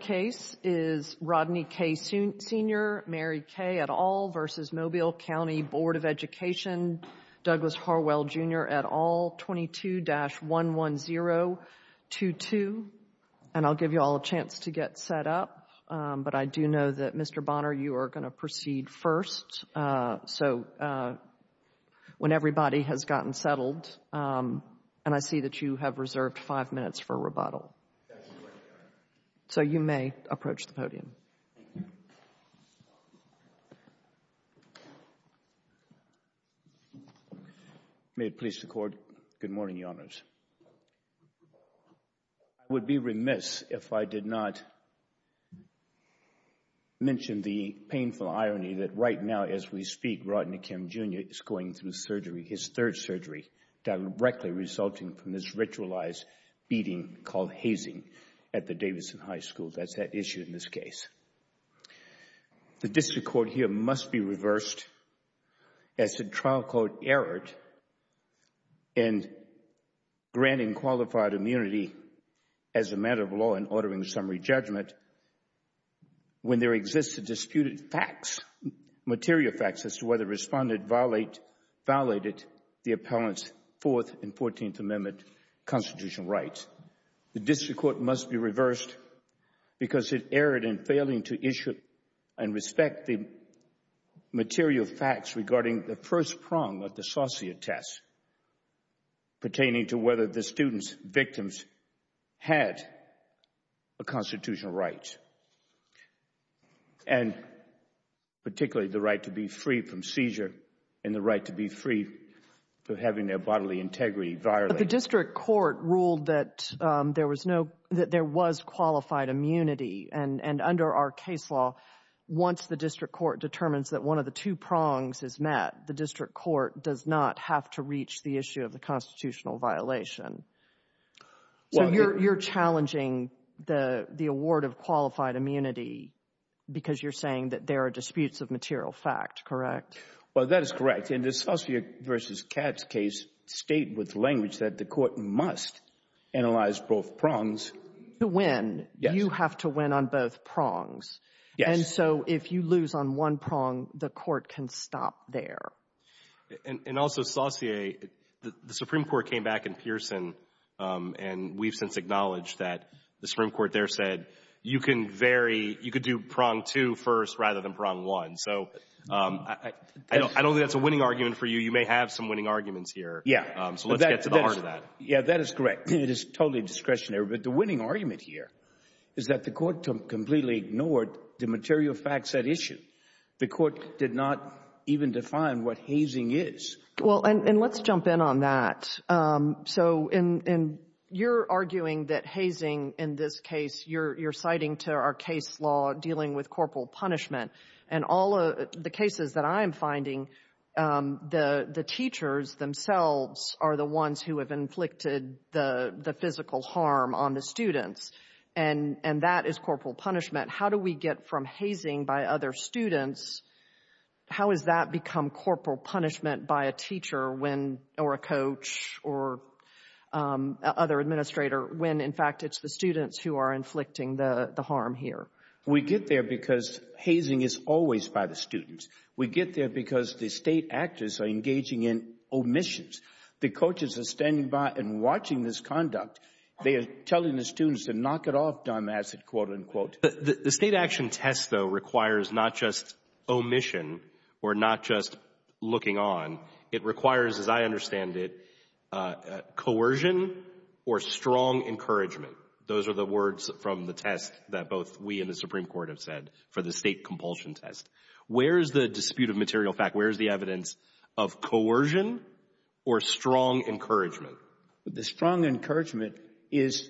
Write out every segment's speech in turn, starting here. case is Rodney K. Sr., Mary K. et al. v. Mobile County Board of Education, Douglas Harwell Jr. et al., 22-11022. And I'll give you all a chance to get set up, but I do know that Mr. Bonner, you are going to proceed first. So, when everybody has gotten settled, and I see that you have reserved five minutes for rebuttal. So, you may approach the podium. May it please the Court. Good morning, Your Honors. I would be remiss if I did not mention the painful irony that right now, as we speak, Rodney K. Jr. is going through surgery, his from this ritualized beating called hazing at the Davidson High School. That's that issue in this case. The district court here must be reversed as the trial court erred in granting qualified immunity as a matter of law and ordering summary judgment when there exists a disputed facts, material facts as to whether the respondent violated the appellant's Fourth and Fourteenth Amendment constitutional rights. The district court must be reversed because it erred in failing to issue and respect the material facts regarding the first prong of the Saucier test pertaining to whether the student's victims had a constitutional right, and particularly the right to be free from seizure and the right to be free from having their bodily integrity violated. But the district court ruled that there was qualified immunity, and under our case law, once the district court determines that one of the two prongs is met, the district court does not have to reach the issue of the constitutional violation. So, you're challenging the award of qualified immunity because you're saying that there are disputes of material fact, correct? Well, that is correct. In the Saucier versus Katz case, state with language that the court must analyze both prongs. To win, you have to win on both prongs. Yes. And so, if you lose on one prong, the court can stop there. And also, Saucier, the Supreme Court came back in Pearson, and we've since acknowledged that the Supreme Court there said you can vary, you could do prong two first rather than prong one. So, I don't think that's a winning argument for you. You may have some winning arguments here. Yeah. So, let's get to the heart of that. Yeah, that is correct. It is totally discretionary. But the winning argument here is that the court completely ignored the material fact set issue. The court did not even define what hazing is. Well, and let's jump in on that. So, you're arguing that hazing in this case, you're citing to our case law dealing with corporal punishment. And all the cases that I'm finding, the teachers themselves are the ones who have inflicted the physical harm on the students. And that is corporal punishment. How do we get from hazing by other students, how has that become corporal punishment by a teacher or a coach or other administrator when, in fact, it's the students who are inflicting the harm here? We get there because hazing is always by the students. We get there because the state actors are engaging in omissions. The coaches are standing by and watching this conduct. They are telling the students to knock it off, Don Mattson, quote-unquote. The state action test, though, requires not just omission or not just looking on. It requires, as I understand it, coercion or strong encouragement. Those are the words from the test that both we and the Supreme Court have said for the state compulsion test. Where is the dispute of material fact? Where is the evidence of coercion or strong encouragement? The strong encouragement is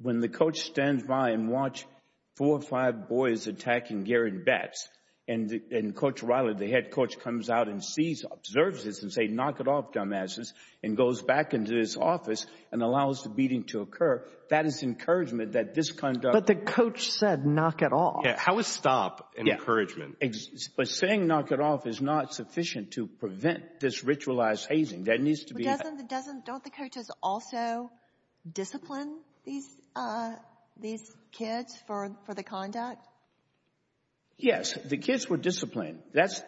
when the coach stands by and watch four or five boys attacking Garrett Betts and Coach Riley, the head coach, comes out and sees, observes this and say, knock it off, dumbasses, and goes back into his office and allows the beating to occur. That is encouragement that this conduct... But the coach said, knock it off. How is stop an encouragement? But saying, knock it off, is not sufficient to prevent this ritualized hazing. That needs to be... But don't the coaches also discipline these kids for the conduct? Yes. The kids were disciplined. That's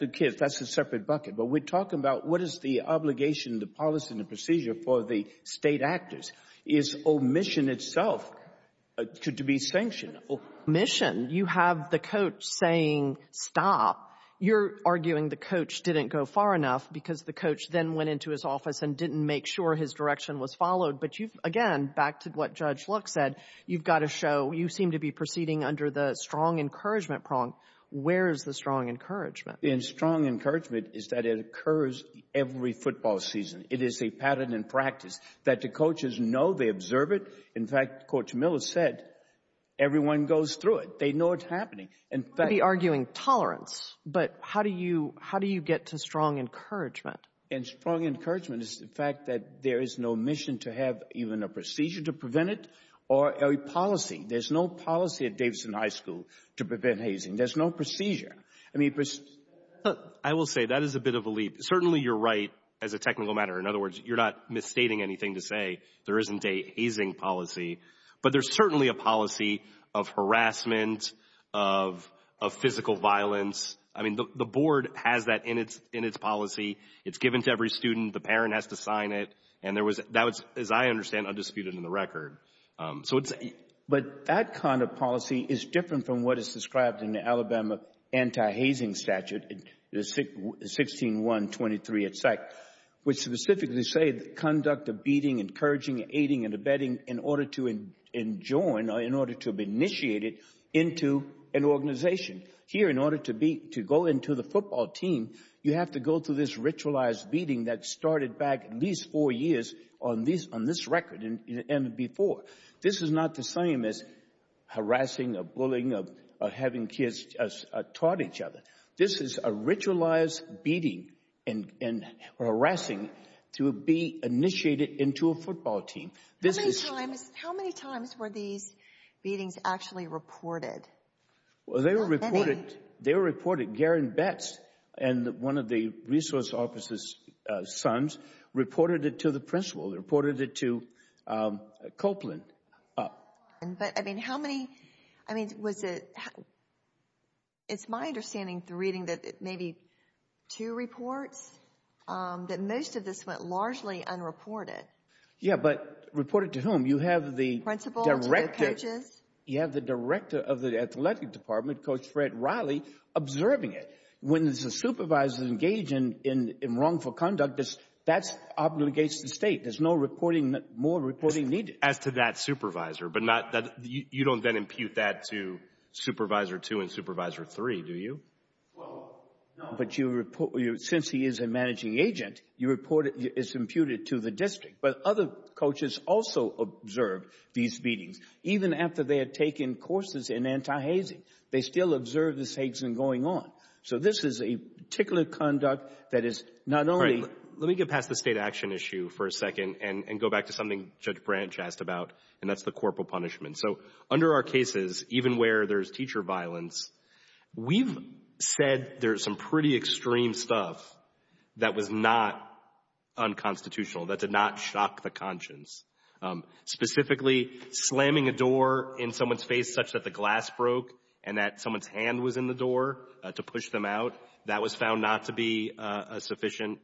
the kids. That's a separate bucket. But we're talking about what is the obligation, the policy and the procedure for the state actors is omission itself to be sanctioned. But it's not omission. You have the coach saying, stop. You're arguing the coach didn't go far enough because the coach then went into his office and didn't make sure his direction was followed. But you've, again, back to what Judge Luck said, you've got to show you seem to be proceeding under the strong encouragement prong. Where is the strong encouragement? The strong encouragement is that it occurs every football season. It is a pattern in the system. People know, they observe it. In fact, Coach Miller said, everyone goes through it. They know it's happening. You might be arguing tolerance, but how do you get to strong encouragement? And strong encouragement is the fact that there is no mission to have even a procedure to prevent it or a policy. There's no policy at Davidson High School to prevent hazing. There's no procedure. I will say, that is a bit of a leap. Certainly, you're right as a technical matter. In other words, there isn't a hazing policy. But there's certainly a policy of harassment, of physical violence. I mean, the board has that in its policy. It's given to every student. The parent has to sign it. And that was, as I understand, undisputed in the record. But that kind of policy is different from what is described in the Alabama Anti-Hazing Statute, 16.1.23, which specifically say, conduct a beating, encouraging, aiding, and abetting in order to enjoin or in order to initiate it into an organization. Here, in order to go into the football team, you have to go through this ritualized beating that started back at least four years on this record and before. This is not the same as this. This is a ritualized beating and harassing to be initiated into a football team. How many times were these beatings actually reported? Well, they were reported. Garen Betts and one of the resource officer's sons reported it to the principal. They reported it to Copeland. But, I mean, how many, I mean, was it, it's my understanding through reading that it may be two reports, that most of this went largely unreported. Yeah, but reported to whom? You have the principal, to the coaches. You have the director of the athletic department, Coach Fred Riley, observing it. When the supervisors engage in wrongful conduct, that obligates the state. There's no more reporting needed. As to that supervisor, but not that, you don't then impute that to Supervisor 2 and Supervisor 3, do you? No. But you report, since he is a managing agent, you report it, it's imputed to the district. But other coaches also observed these beatings, even after they had taken courses in anti-hazing. They still observed this hazing going on. So this is a particular conduct that is not only All right, let me get past the state action issue for a second and go back to something Judge Branch asked about, and that's the corporal punishment. So under our cases, even where there's teacher violence, we've said there's some pretty extreme stuff that was not unconstitutional, that did not shock the conscience. Specifically, slamming a door in someone's face such that the glass broke and that someone's hand was in the door to push them out, that was found not to be sufficient.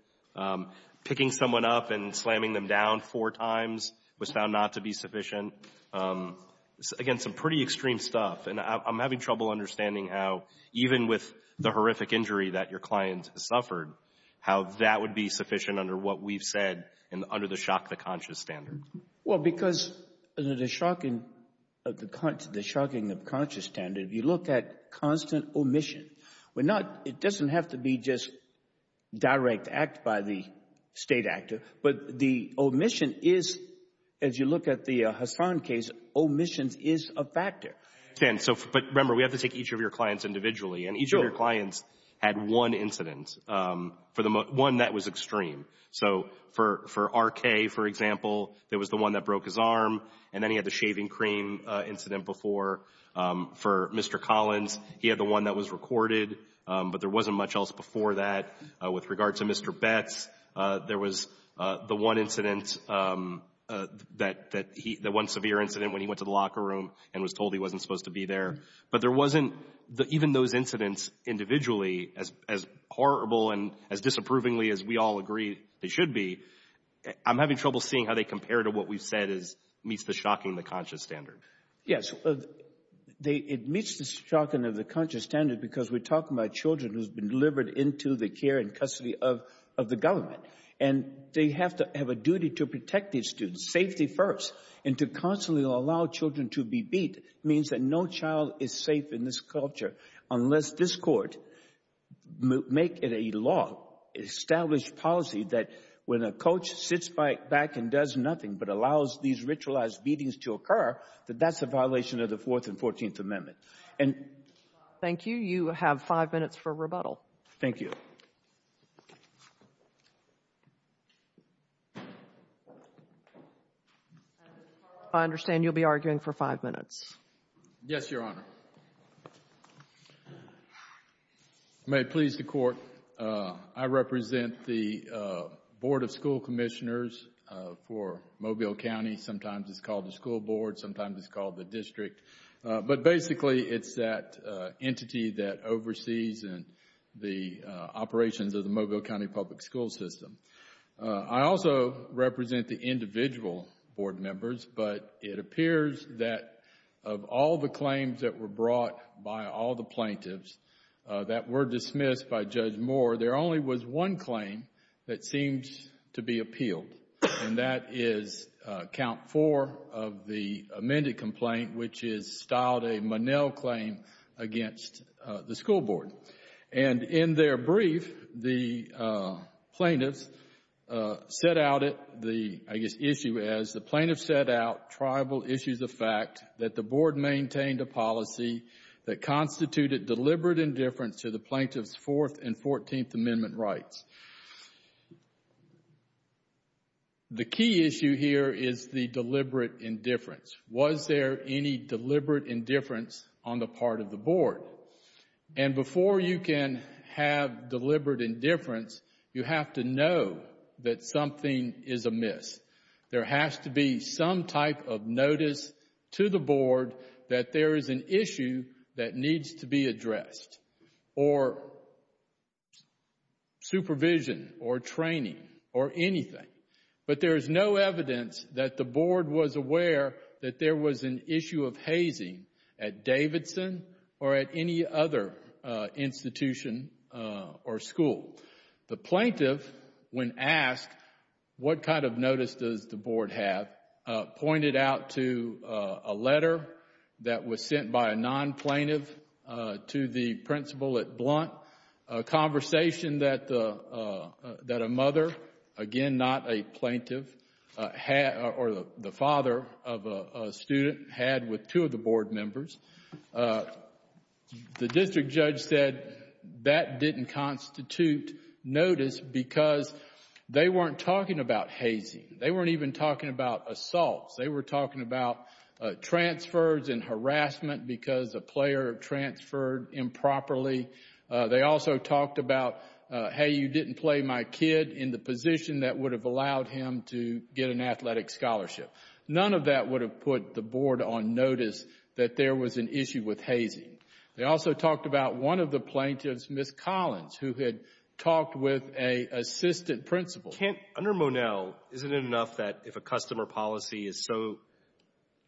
Picking someone up and slamming them down four times was found not to be sufficient. Again, some pretty extreme stuff. And I'm having trouble understanding how even with the horrific injury that your client suffered, how that would be sufficient under what we've said and under the shock the conscience standard. Well, because under the shocking of the conscience standard, if you look at constant omission, it doesn't have to be just direct act by the state actor, but the omission is, as you look at the Hassan case, omission is a factor. But remember, we have to take each of your clients individually, and each of your clients had one incident, one that was extreme. So for R.K., for example, that was the one that broke his arm, and then he had the shaving cream incident before. For Mr. Collins, he had the one that was recorded, but there wasn't much else before that. With regard to Mr. Betz, there was the one incident, the one severe incident when he went to the locker room and was told he wasn't supposed to be there. But there wasn't, even those incidents individually, as horrible and as disapprovingly as we all agree they should be, I'm having trouble seeing how they compare to what we've said meets the shocking of the conscience standard. Yes, it meets the shocking of the conscience standard because we're talking about children who have been delivered into the care and custody of the government, and they have to have a duty to protect these students, safety first, and to constantly allow children to be beat means that no child is safe in this culture unless this Court make it a law, establish policy that when a coach sits back and does nothing but allows these ritualized beatings to occur, that that's a violation of the Fourth and Fourteenth Amendments. Thank you. You have five minutes for rebuttal. Thank you. I understand you'll be arguing for five minutes. Yes, Your Honor. May it please the Court, I represent the Board of School Commissioners for Mobile County, sometimes it's called the school board, sometimes it's called the district, but basically it's that entity that oversees the operations of the Mobile County Public School System. I also represent the individual board members, but it appears that of all the claims that were brought by all the plaintiffs that were dismissed by Judge Moore, there only was one out four of the amended complaint, which is styled a Monell claim against the school board. In their brief, the plaintiffs set out the issue as, the plaintiff set out tribal issues of fact that the board maintained a policy that constituted deliberate indifference to the plaintiff's Fourth and Fourteenth Amendment rights. The key issue here is the deliberate indifference. Was there any deliberate indifference on the part of the board? And before you can have deliberate indifference, you have to know that something is amiss. There has to be some type of notice to the board that there is an issue that needs to be addressed, or supervision, or training, or anything. But there is no evidence that the board was aware that there was an issue of hazing at Davidson or at any other institution or school. The plaintiff, when asked what kind of notice does the board have, pointed out to a letter that was sent by a non-plaintiff to the principal at Blount, a conversation that a mother, again not a plaintiff, or the father of a student had with two of the board members. The district judge said that didn't constitute notice because they weren't talking about hazing. They weren't even talking about assaults. They were talking about transfers and harassment because a player transferred improperly. They also talked about, hey, you didn't play my kid in the position that would have allowed him to get an athletic scholarship. None of that would have put the board on notice that there was an issue with hazing. They also talked about one of the plaintiffs, Ms. Collins, who had talked with an assistant principal. Under Monell, isn't it enough that if a customer policy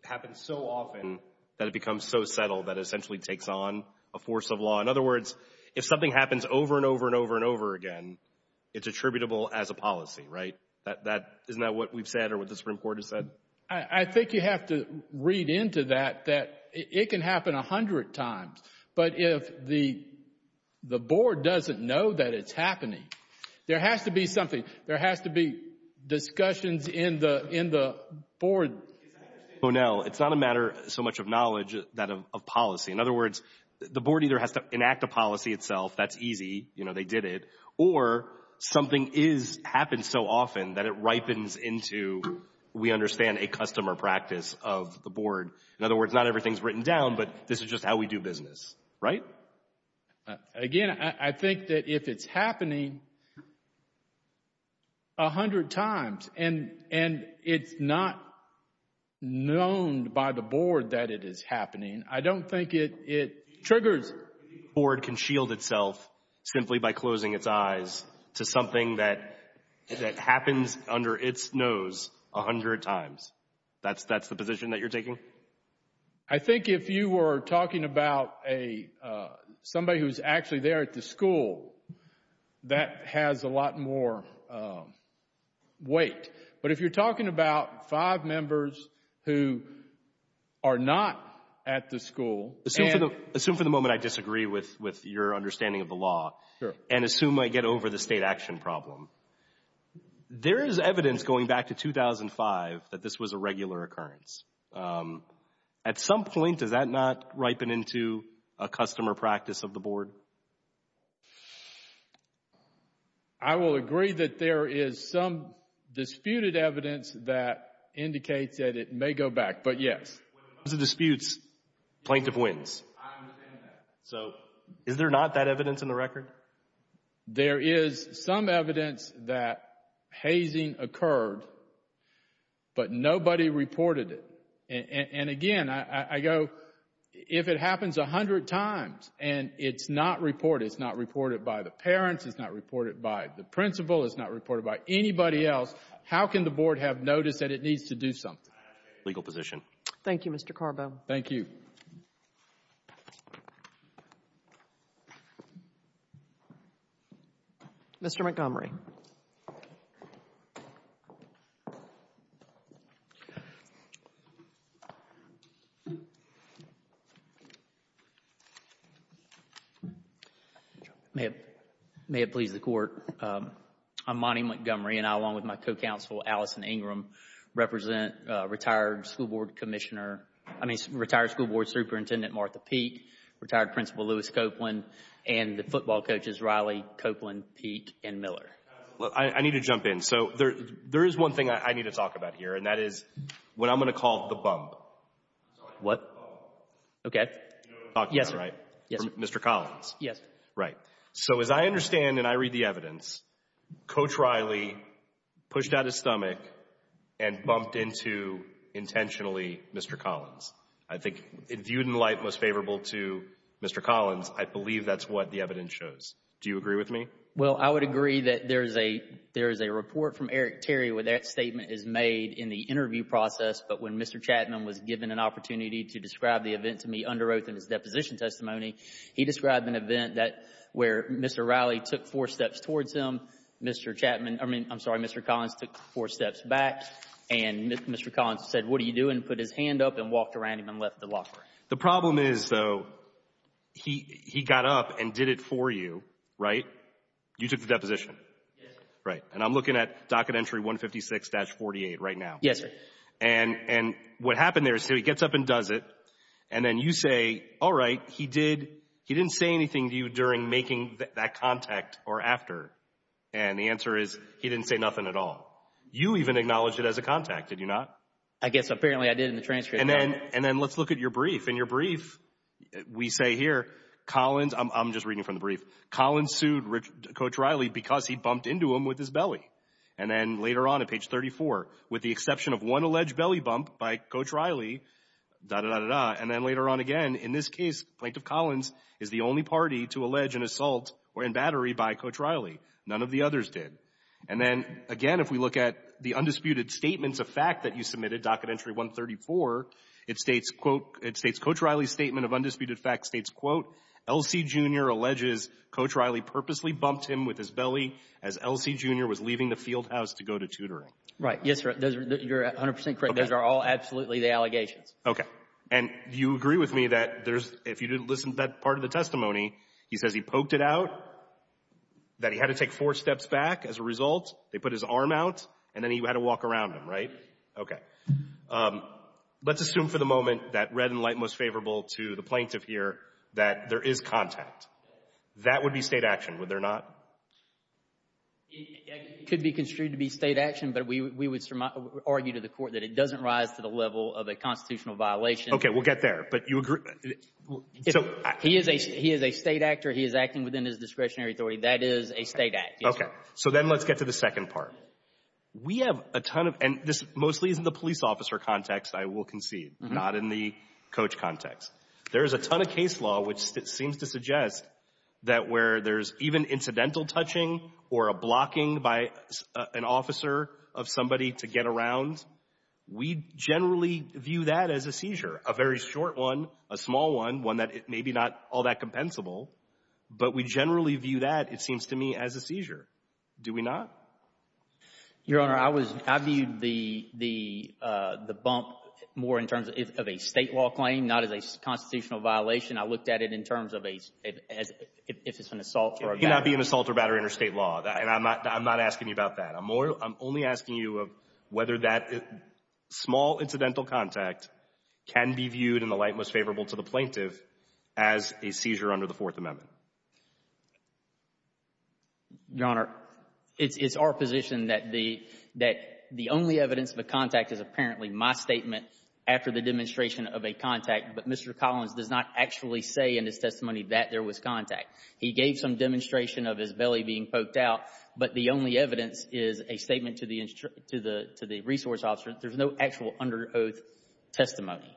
happens so often that it becomes so settled that it essentially takes on a force of law? In other words, if something happens over and over and over and over again, it's attributable as a policy, right? Isn't that what we've said or what the Supreme Court has said? I think you have to read into that that it can happen a hundred times, but if the board doesn't know that it's happening, there has to be something. There has to be discussions in the board. I understand Monell, it's not a matter so much of knowledge, that of policy. In other words, the board either has to enact a policy itself, that's easy, they did it, or something happens so often that it ripens into, we understand, a customer practice of the board. In other words, not everything is written down, but this is just how we do business, right? Again, I think that if it's happening a hundred times and it's not known by the board that it is happening, I don't think it triggers. Board can shield itself simply by closing its eyes to something that happens under its nose a hundred times. That's the position that you're taking? Thank you. I think if you were talking about somebody who's actually there at the school, that has a lot more weight. But if you're talking about five members who are not at the school, and... Assume for the moment I disagree with your understanding of the law, and assume I get over the state action problem. There is evidence going back to 2005 that this was a regular occurrence. At some point, does that not ripen into a customer practice of the board? I will agree that there is some disputed evidence that indicates that it may go back, but yes. When it comes to disputes, plaintiff wins. However, there is some evidence that hazing occurred, but nobody reported it. Again, I go, if it happens a hundred times and it's not reported, it's not reported by the parents, it's not reported by the principal, it's not reported by anybody else, how can the board have notice that it needs to do something? Legal position. Thank you, Mr. Carbo. Thank you. Mr. Montgomery. May it please the Court. I'm Monty Montgomery, and I, along with my co-counsel, Allison Ingram, represent retired school board commissioner, I mean retired school board superintendent Martha Peek, retired principal Lewis Copeland, and the football coaches Riley, Copeland, Peek, and Miller. I need to jump in. So there is one thing I need to talk about here, and that is what I'm going to call the bump. What? Okay. You know what I'm talking about, right? Yes. From Mr. Collins. Yes. Right. So as I understand and I read the evidence, Coach Riley pushed out his stomach and bumped into intentionally Mr. Collins. I think viewed in light most favorable to Mr. Collins, I believe that's what the evidence shows. Do you agree with me? Well, I would agree that there is a report from Eric Terry where that statement is made in the interview process, but when Mr. Chapman was given an opportunity to describe the event to me under oath in his deposition testimony, he described an event where Mr. Riley took four steps towards him, Mr. Chapman, I mean, I'm sorry, Mr. Collins took four steps back, and Mr. Collins said, what are you doing, put his hand up and walked around him and left the locker. The problem is, though, he got up and did it for you, right? You took the deposition. Yes. Right. And I'm looking at docket entry 156-48 right now. Yes, sir. And what happened there is he gets up and does it, and then you say, all right, he didn't say anything to you during making that contact or after, and the answer is he didn't say nothing at all. You even acknowledged it as a contact, did you not? I guess apparently I did in the transcript. And then let's look at your brief. In your brief, we say here, Collins, I'm just reading from the brief, Collins sued Coach Riley because he bumped into him with his belly. And then later on at page 34, with the exception of one alleged belly bump by Coach Riley, and then later on again, in this case, Plaintiff Collins is the only party to allege an assault or embattery by Coach Riley. None of the others did. And then, again, if we look at the undisputed statements of fact that you submitted, docket entry 134, it states, quote, it states, Coach Riley's statement of undisputed fact states, quote, LC Jr. alleges Coach Riley purposely bumped him with his belly as LC Jr. was leaving the field house to go to tutoring. Right. Yes, sir. You're 100 percent correct. Those are all absolutely the allegations. Okay. And you agree with me that there's, if you didn't listen to that part of the testimony, he says he poked it out, that he had to take four steps back as a result, they put his arm out, and then he had to walk around him, right? Okay. Let's assume for the moment that red and light most favorable to the plaintiff here that there is contact. That would be State action, would there not? It could be construed to be State action, but we would argue to the court that it doesn't rise to the level of a constitutional violation. Okay. We'll get there. But you agree? He is a State actor. He is acting within his discretionary authority. That is a State act. Okay. So then let's get to the second part. We have a ton of, and this mostly is in the police officer context, I will concede, not in the coach context. There is a ton of case law which seems to suggest that where there is even incidental touching or a blocking by an officer of somebody to get around, we generally view that as a seizure. A very short one, a small one, one that may be not all that compensable, but we generally view that, it seems to me, as a seizure. Do we not? Your Honor, I was, I viewed the bump more in terms of a State law claim, not as a constitutional violation. I looked at it in terms of a, if it's an assault or a battery. It cannot be an assault or battery under State law, and I'm not asking you about that. I'm only asking you of whether that small incidental contact can be viewed in the light most favorable to the plaintiff as a seizure under the Fourth Amendment. Your Honor, it's our position that the, that the only evidence of a contact is apparently my statement after the demonstration of a contact, but Mr. Collins does not actually say in his testimony that there was contact. He gave some demonstration of his belly being poked out, but the only evidence is a statement to the resource officer. There's no actual under oath testimony.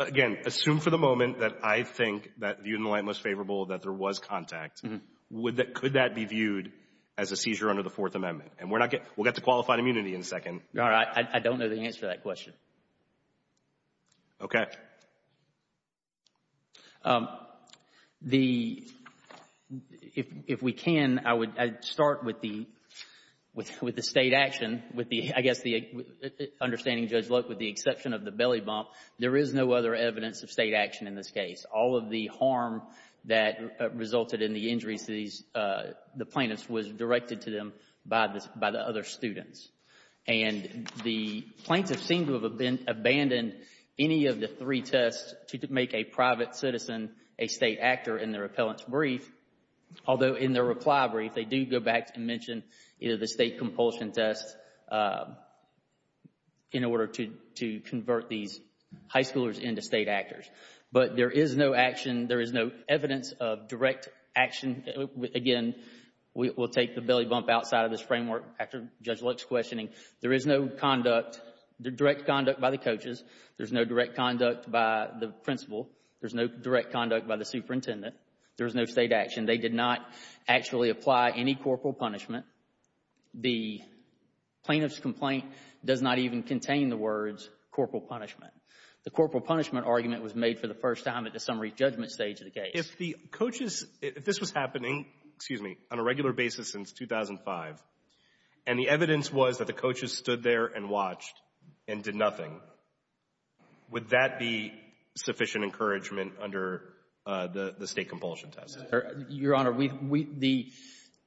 Again, assume for the moment that I think that viewed in the light most favorable that there was contact, would that, could that be viewed as a seizure under the Fourth Amendment? And we're not getting, we'll get to qualified immunity in a second. Your Honor, I don't know the answer to that question. Okay. The, if we can, I would, I'd start with the, with the State action, with the, I guess the, understanding Judge Looke, with the exception of the belly bump, there is no other evidence of State action in this case. All of the harm that resulted in the injuries to these, the plaintiffs was directed to them by the, by the other students. And the plaintiffs seem to have abandoned any of the three tests to make a private citizen a State actor in their appellant's brief, although in their reply brief, they do go back and mention either the State compulsion test in order to, to convert these high schoolers into State actors. But there is no action, there is no evidence of direct action, again, we'll take the belly bump outside of this framework after Judge Looke's questioning. There is no conduct, direct conduct by the coaches. There's no direct conduct by the principal. There's no direct conduct by the superintendent. There's no State action. They did not actually apply any corporal punishment. The plaintiff's complaint does not even contain the words corporal punishment. The corporal punishment argument was made for the first time at the summary judgment stage of the case. If the coaches, if this was happening, excuse me, on a regular basis since 2005, and the evidence was that the coaches stood there and watched and did nothing, would that be sufficient encouragement under the State compulsion test? Your Honor, we, we, the,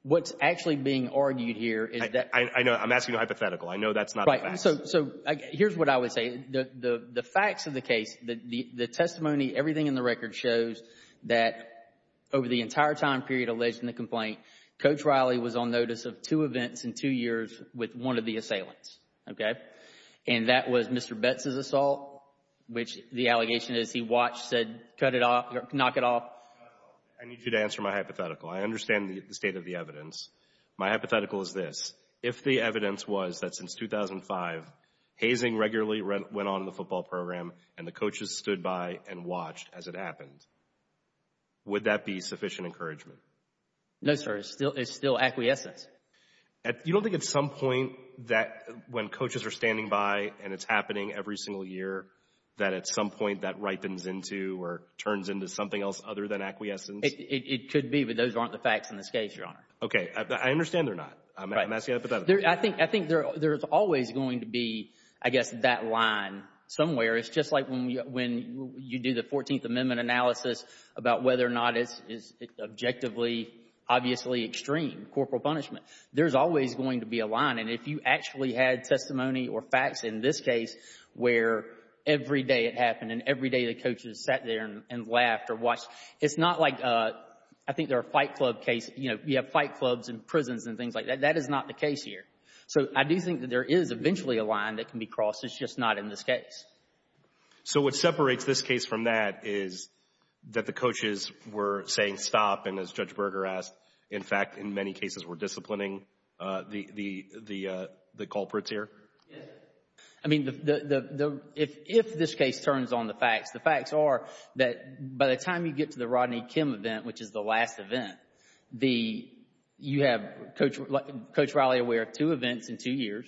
what's actually being argued here is that. I know, I'm asking a hypothetical. I know that's not a fact. Right. So, so, here's what I would say. The, the, the facts of the case, the, the, the testimony, everything in the record shows that over the entire time period alleged in the complaint, Coach Riley was on notice of two events in two years with one of the assailants, okay? And that was Mr. Betz's assault, which the allegation is he watched, said, cut it off, knock it off. I need you to answer my hypothetical. I understand the state of the evidence. My hypothetical is this. If the evidence was that since 2005, hazing regularly went on in the football program and the coaches stood by and watched as it happened, would that be sufficient encouragement? No, sir. It's still, it's still acquiescence. You don't think at some point that when coaches are standing by and it's happening every single year, that at some point that ripens into or turns into something else other than acquiescence? It could be, but those aren't the facts in this case, Your Honor. Okay. I understand they're not. Right. I'm asking a hypothetical. I think, I think there, there's always going to be, I guess, that line somewhere. It's just like when you, when you do the 14th Amendment analysis about whether or not it's, it's objectively, obviously extreme, corporal punishment. There's always going to be a line. And if you actually had testimony or facts in this case where every day it happened and every day the coaches sat there and laughed or watched, it's not like a, I think they're a fight club case. You know, you have fight clubs and prisons and things like that. That is not the case here. So I do think that there is eventually a line that can be crossed. It's just not in this case. So what separates this case from that is that the coaches were saying, stop, and as Judge Yes. I mean, the, the, the, if, if this case turns on the facts, the facts are that by the time you get to the Rodney Kim event, which is the last event, the, you have Coach, like Coach Riley aware of two events in two years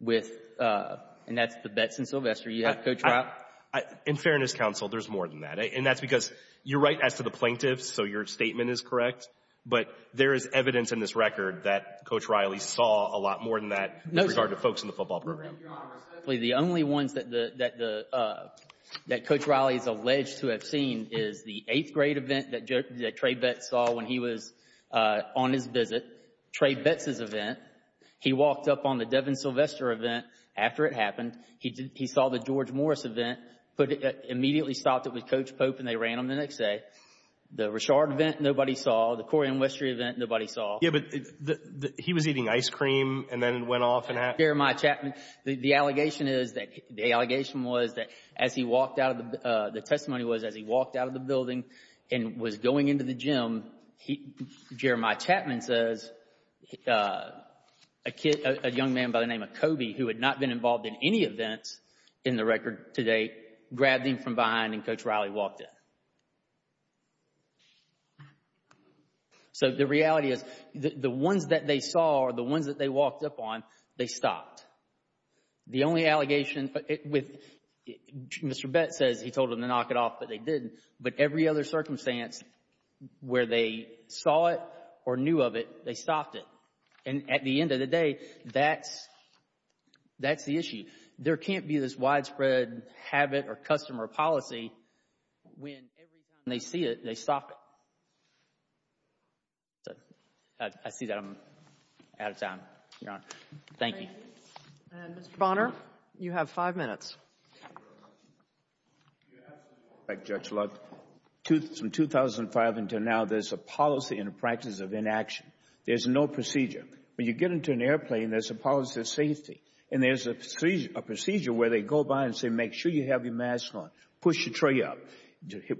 with, and that's the Betts and Sylvester. You have Coach Riley? In Fairness Counsel, there's more than that. And that's because you're right as to the plaintiffs, so your statement is correct. But there is evidence in this record that Coach Riley saw a lot more than that. No, sir. With regard to folks in the football program. Your Honor, the only ones that, that, that Coach Riley is alleged to have seen is the eighth grade event that, that Trey Betts saw when he was on his visit, Trey Betts' event. He walked up on the Devin Sylvester event after it happened. He did, he saw the George Morris event, put it, immediately stopped it with Coach Pope and they ran them the next day. The Rashard event, nobody saw. The Corian Westry event, nobody saw. Yeah, but the, the, he was eating ice cream and then went off and had. Jeremiah Chapman. The, the allegation is that, the allegation was that as he walked out of the, the testimony was as he walked out of the building and was going into the gym, he, Jeremiah Chapman says a kid, a young man by the name of Kobe, who had not been involved in any events in the record to date, grabbed him from behind and Coach Riley walked in. So, the reality is, the, the ones that they saw are the ones that they walked up on, they stopped. The only allegation with, Mr. Betts says he told them to knock it off, but they didn't. But every other circumstance where they saw it or knew of it, they stopped it. And at the end of the day, that's, that's the issue. There can't be this widespread habit or customer policy when every time they see it, they stop it. I see that I'm out of time, Your Honor. Thank you. Mr. Bonner, you have five minutes. You have to know, Judge Luck, from 2005 until now, there's a policy and a practice of inaction. There's no procedure. When you get into an airplane, there's a policy of safety and there's a procedure where they go by and say, make sure you have your mask on, push your tray up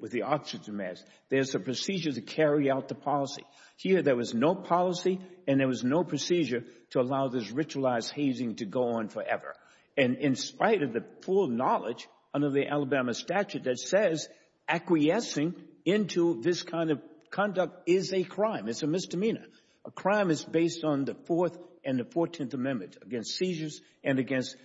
with the oxygen mask. There's a procedure to carry out the policy. Here there was no policy and there was no procedure to allow this ritualized hazing to go on forever. And in spite of the full knowledge under the Alabama statute that says acquiescing into this kind of conduct is a crime, it's a misdemeanor. A crime is based on the Fourth and the Fourteenth Amendments against seizures and against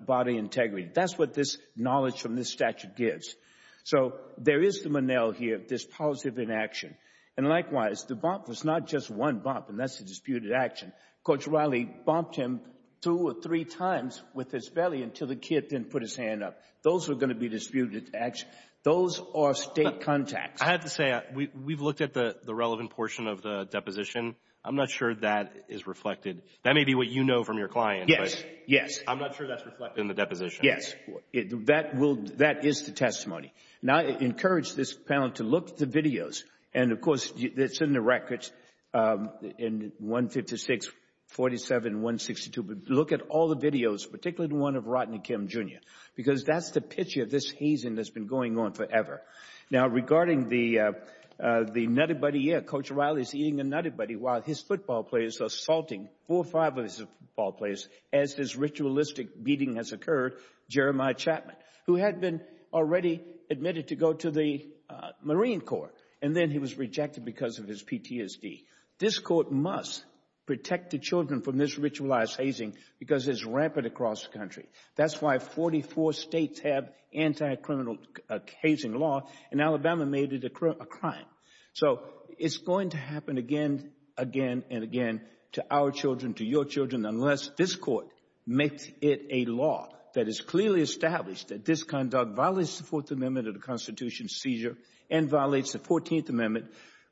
bodily integrity. That's what this knowledge from this statute gives. So there is the Monell here, this policy of inaction. And likewise, the bump was not just one bump, and that's a disputed action. Coach Riley bumped him two or three times with his belly until the kid didn't put his hand up. Those are going to be disputed actions. Those are State contacts. I have to say, we've looked at the relevant portion of the deposition. I'm not sure that is reflected. That may be what you know from your client. Yes. Yes. I'm not sure that's reflected in the deposition. Yes. That is the testimony. Now I encourage this panel to look at the videos. And of course, it's in the records in 156, 47, 162. Look at all the videos, particularly the one of Rodney Kim Jr. Because that's the picture. This hazing has been going on forever. Now, regarding the nutty buddy here, Coach Riley is eating a nutty buddy while his football player is assaulting four or five of his football players as his ritualistic beating has occurred, Jeremiah Chapman, who had been already admitted to go to the Marine Corps. And then he was rejected because of his PTSD. This court must protect the children from this ritualized hazing because it's rampant across the country. That's why 44 states have anti-criminal hazing law and Alabama made it a crime. So it's going to happen again, again, and again to our children, to your children, unless this court makes it a law that is clearly established that this conduct violates the Fourth Amendment of the Constitution's seizure and violates the Fourteenth Amendment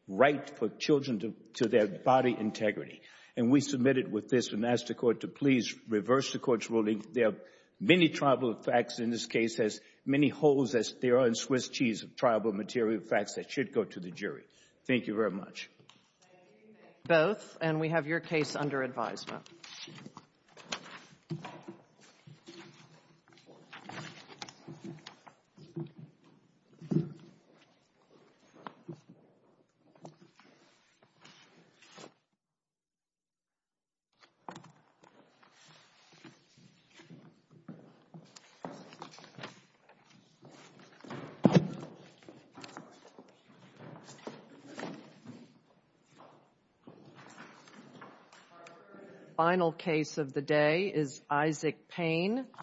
right for children to their body integrity. And we submit it with this and ask the court to please reverse the court's ruling. There are many tribal facts in this case, as many holes as there are in Swiss cheese of tribal material facts that should go to the jury. Thank you very much. Thank you. Thank you both. And we have your case under advisement. Thank you. The final case of the day is Isaac Payne.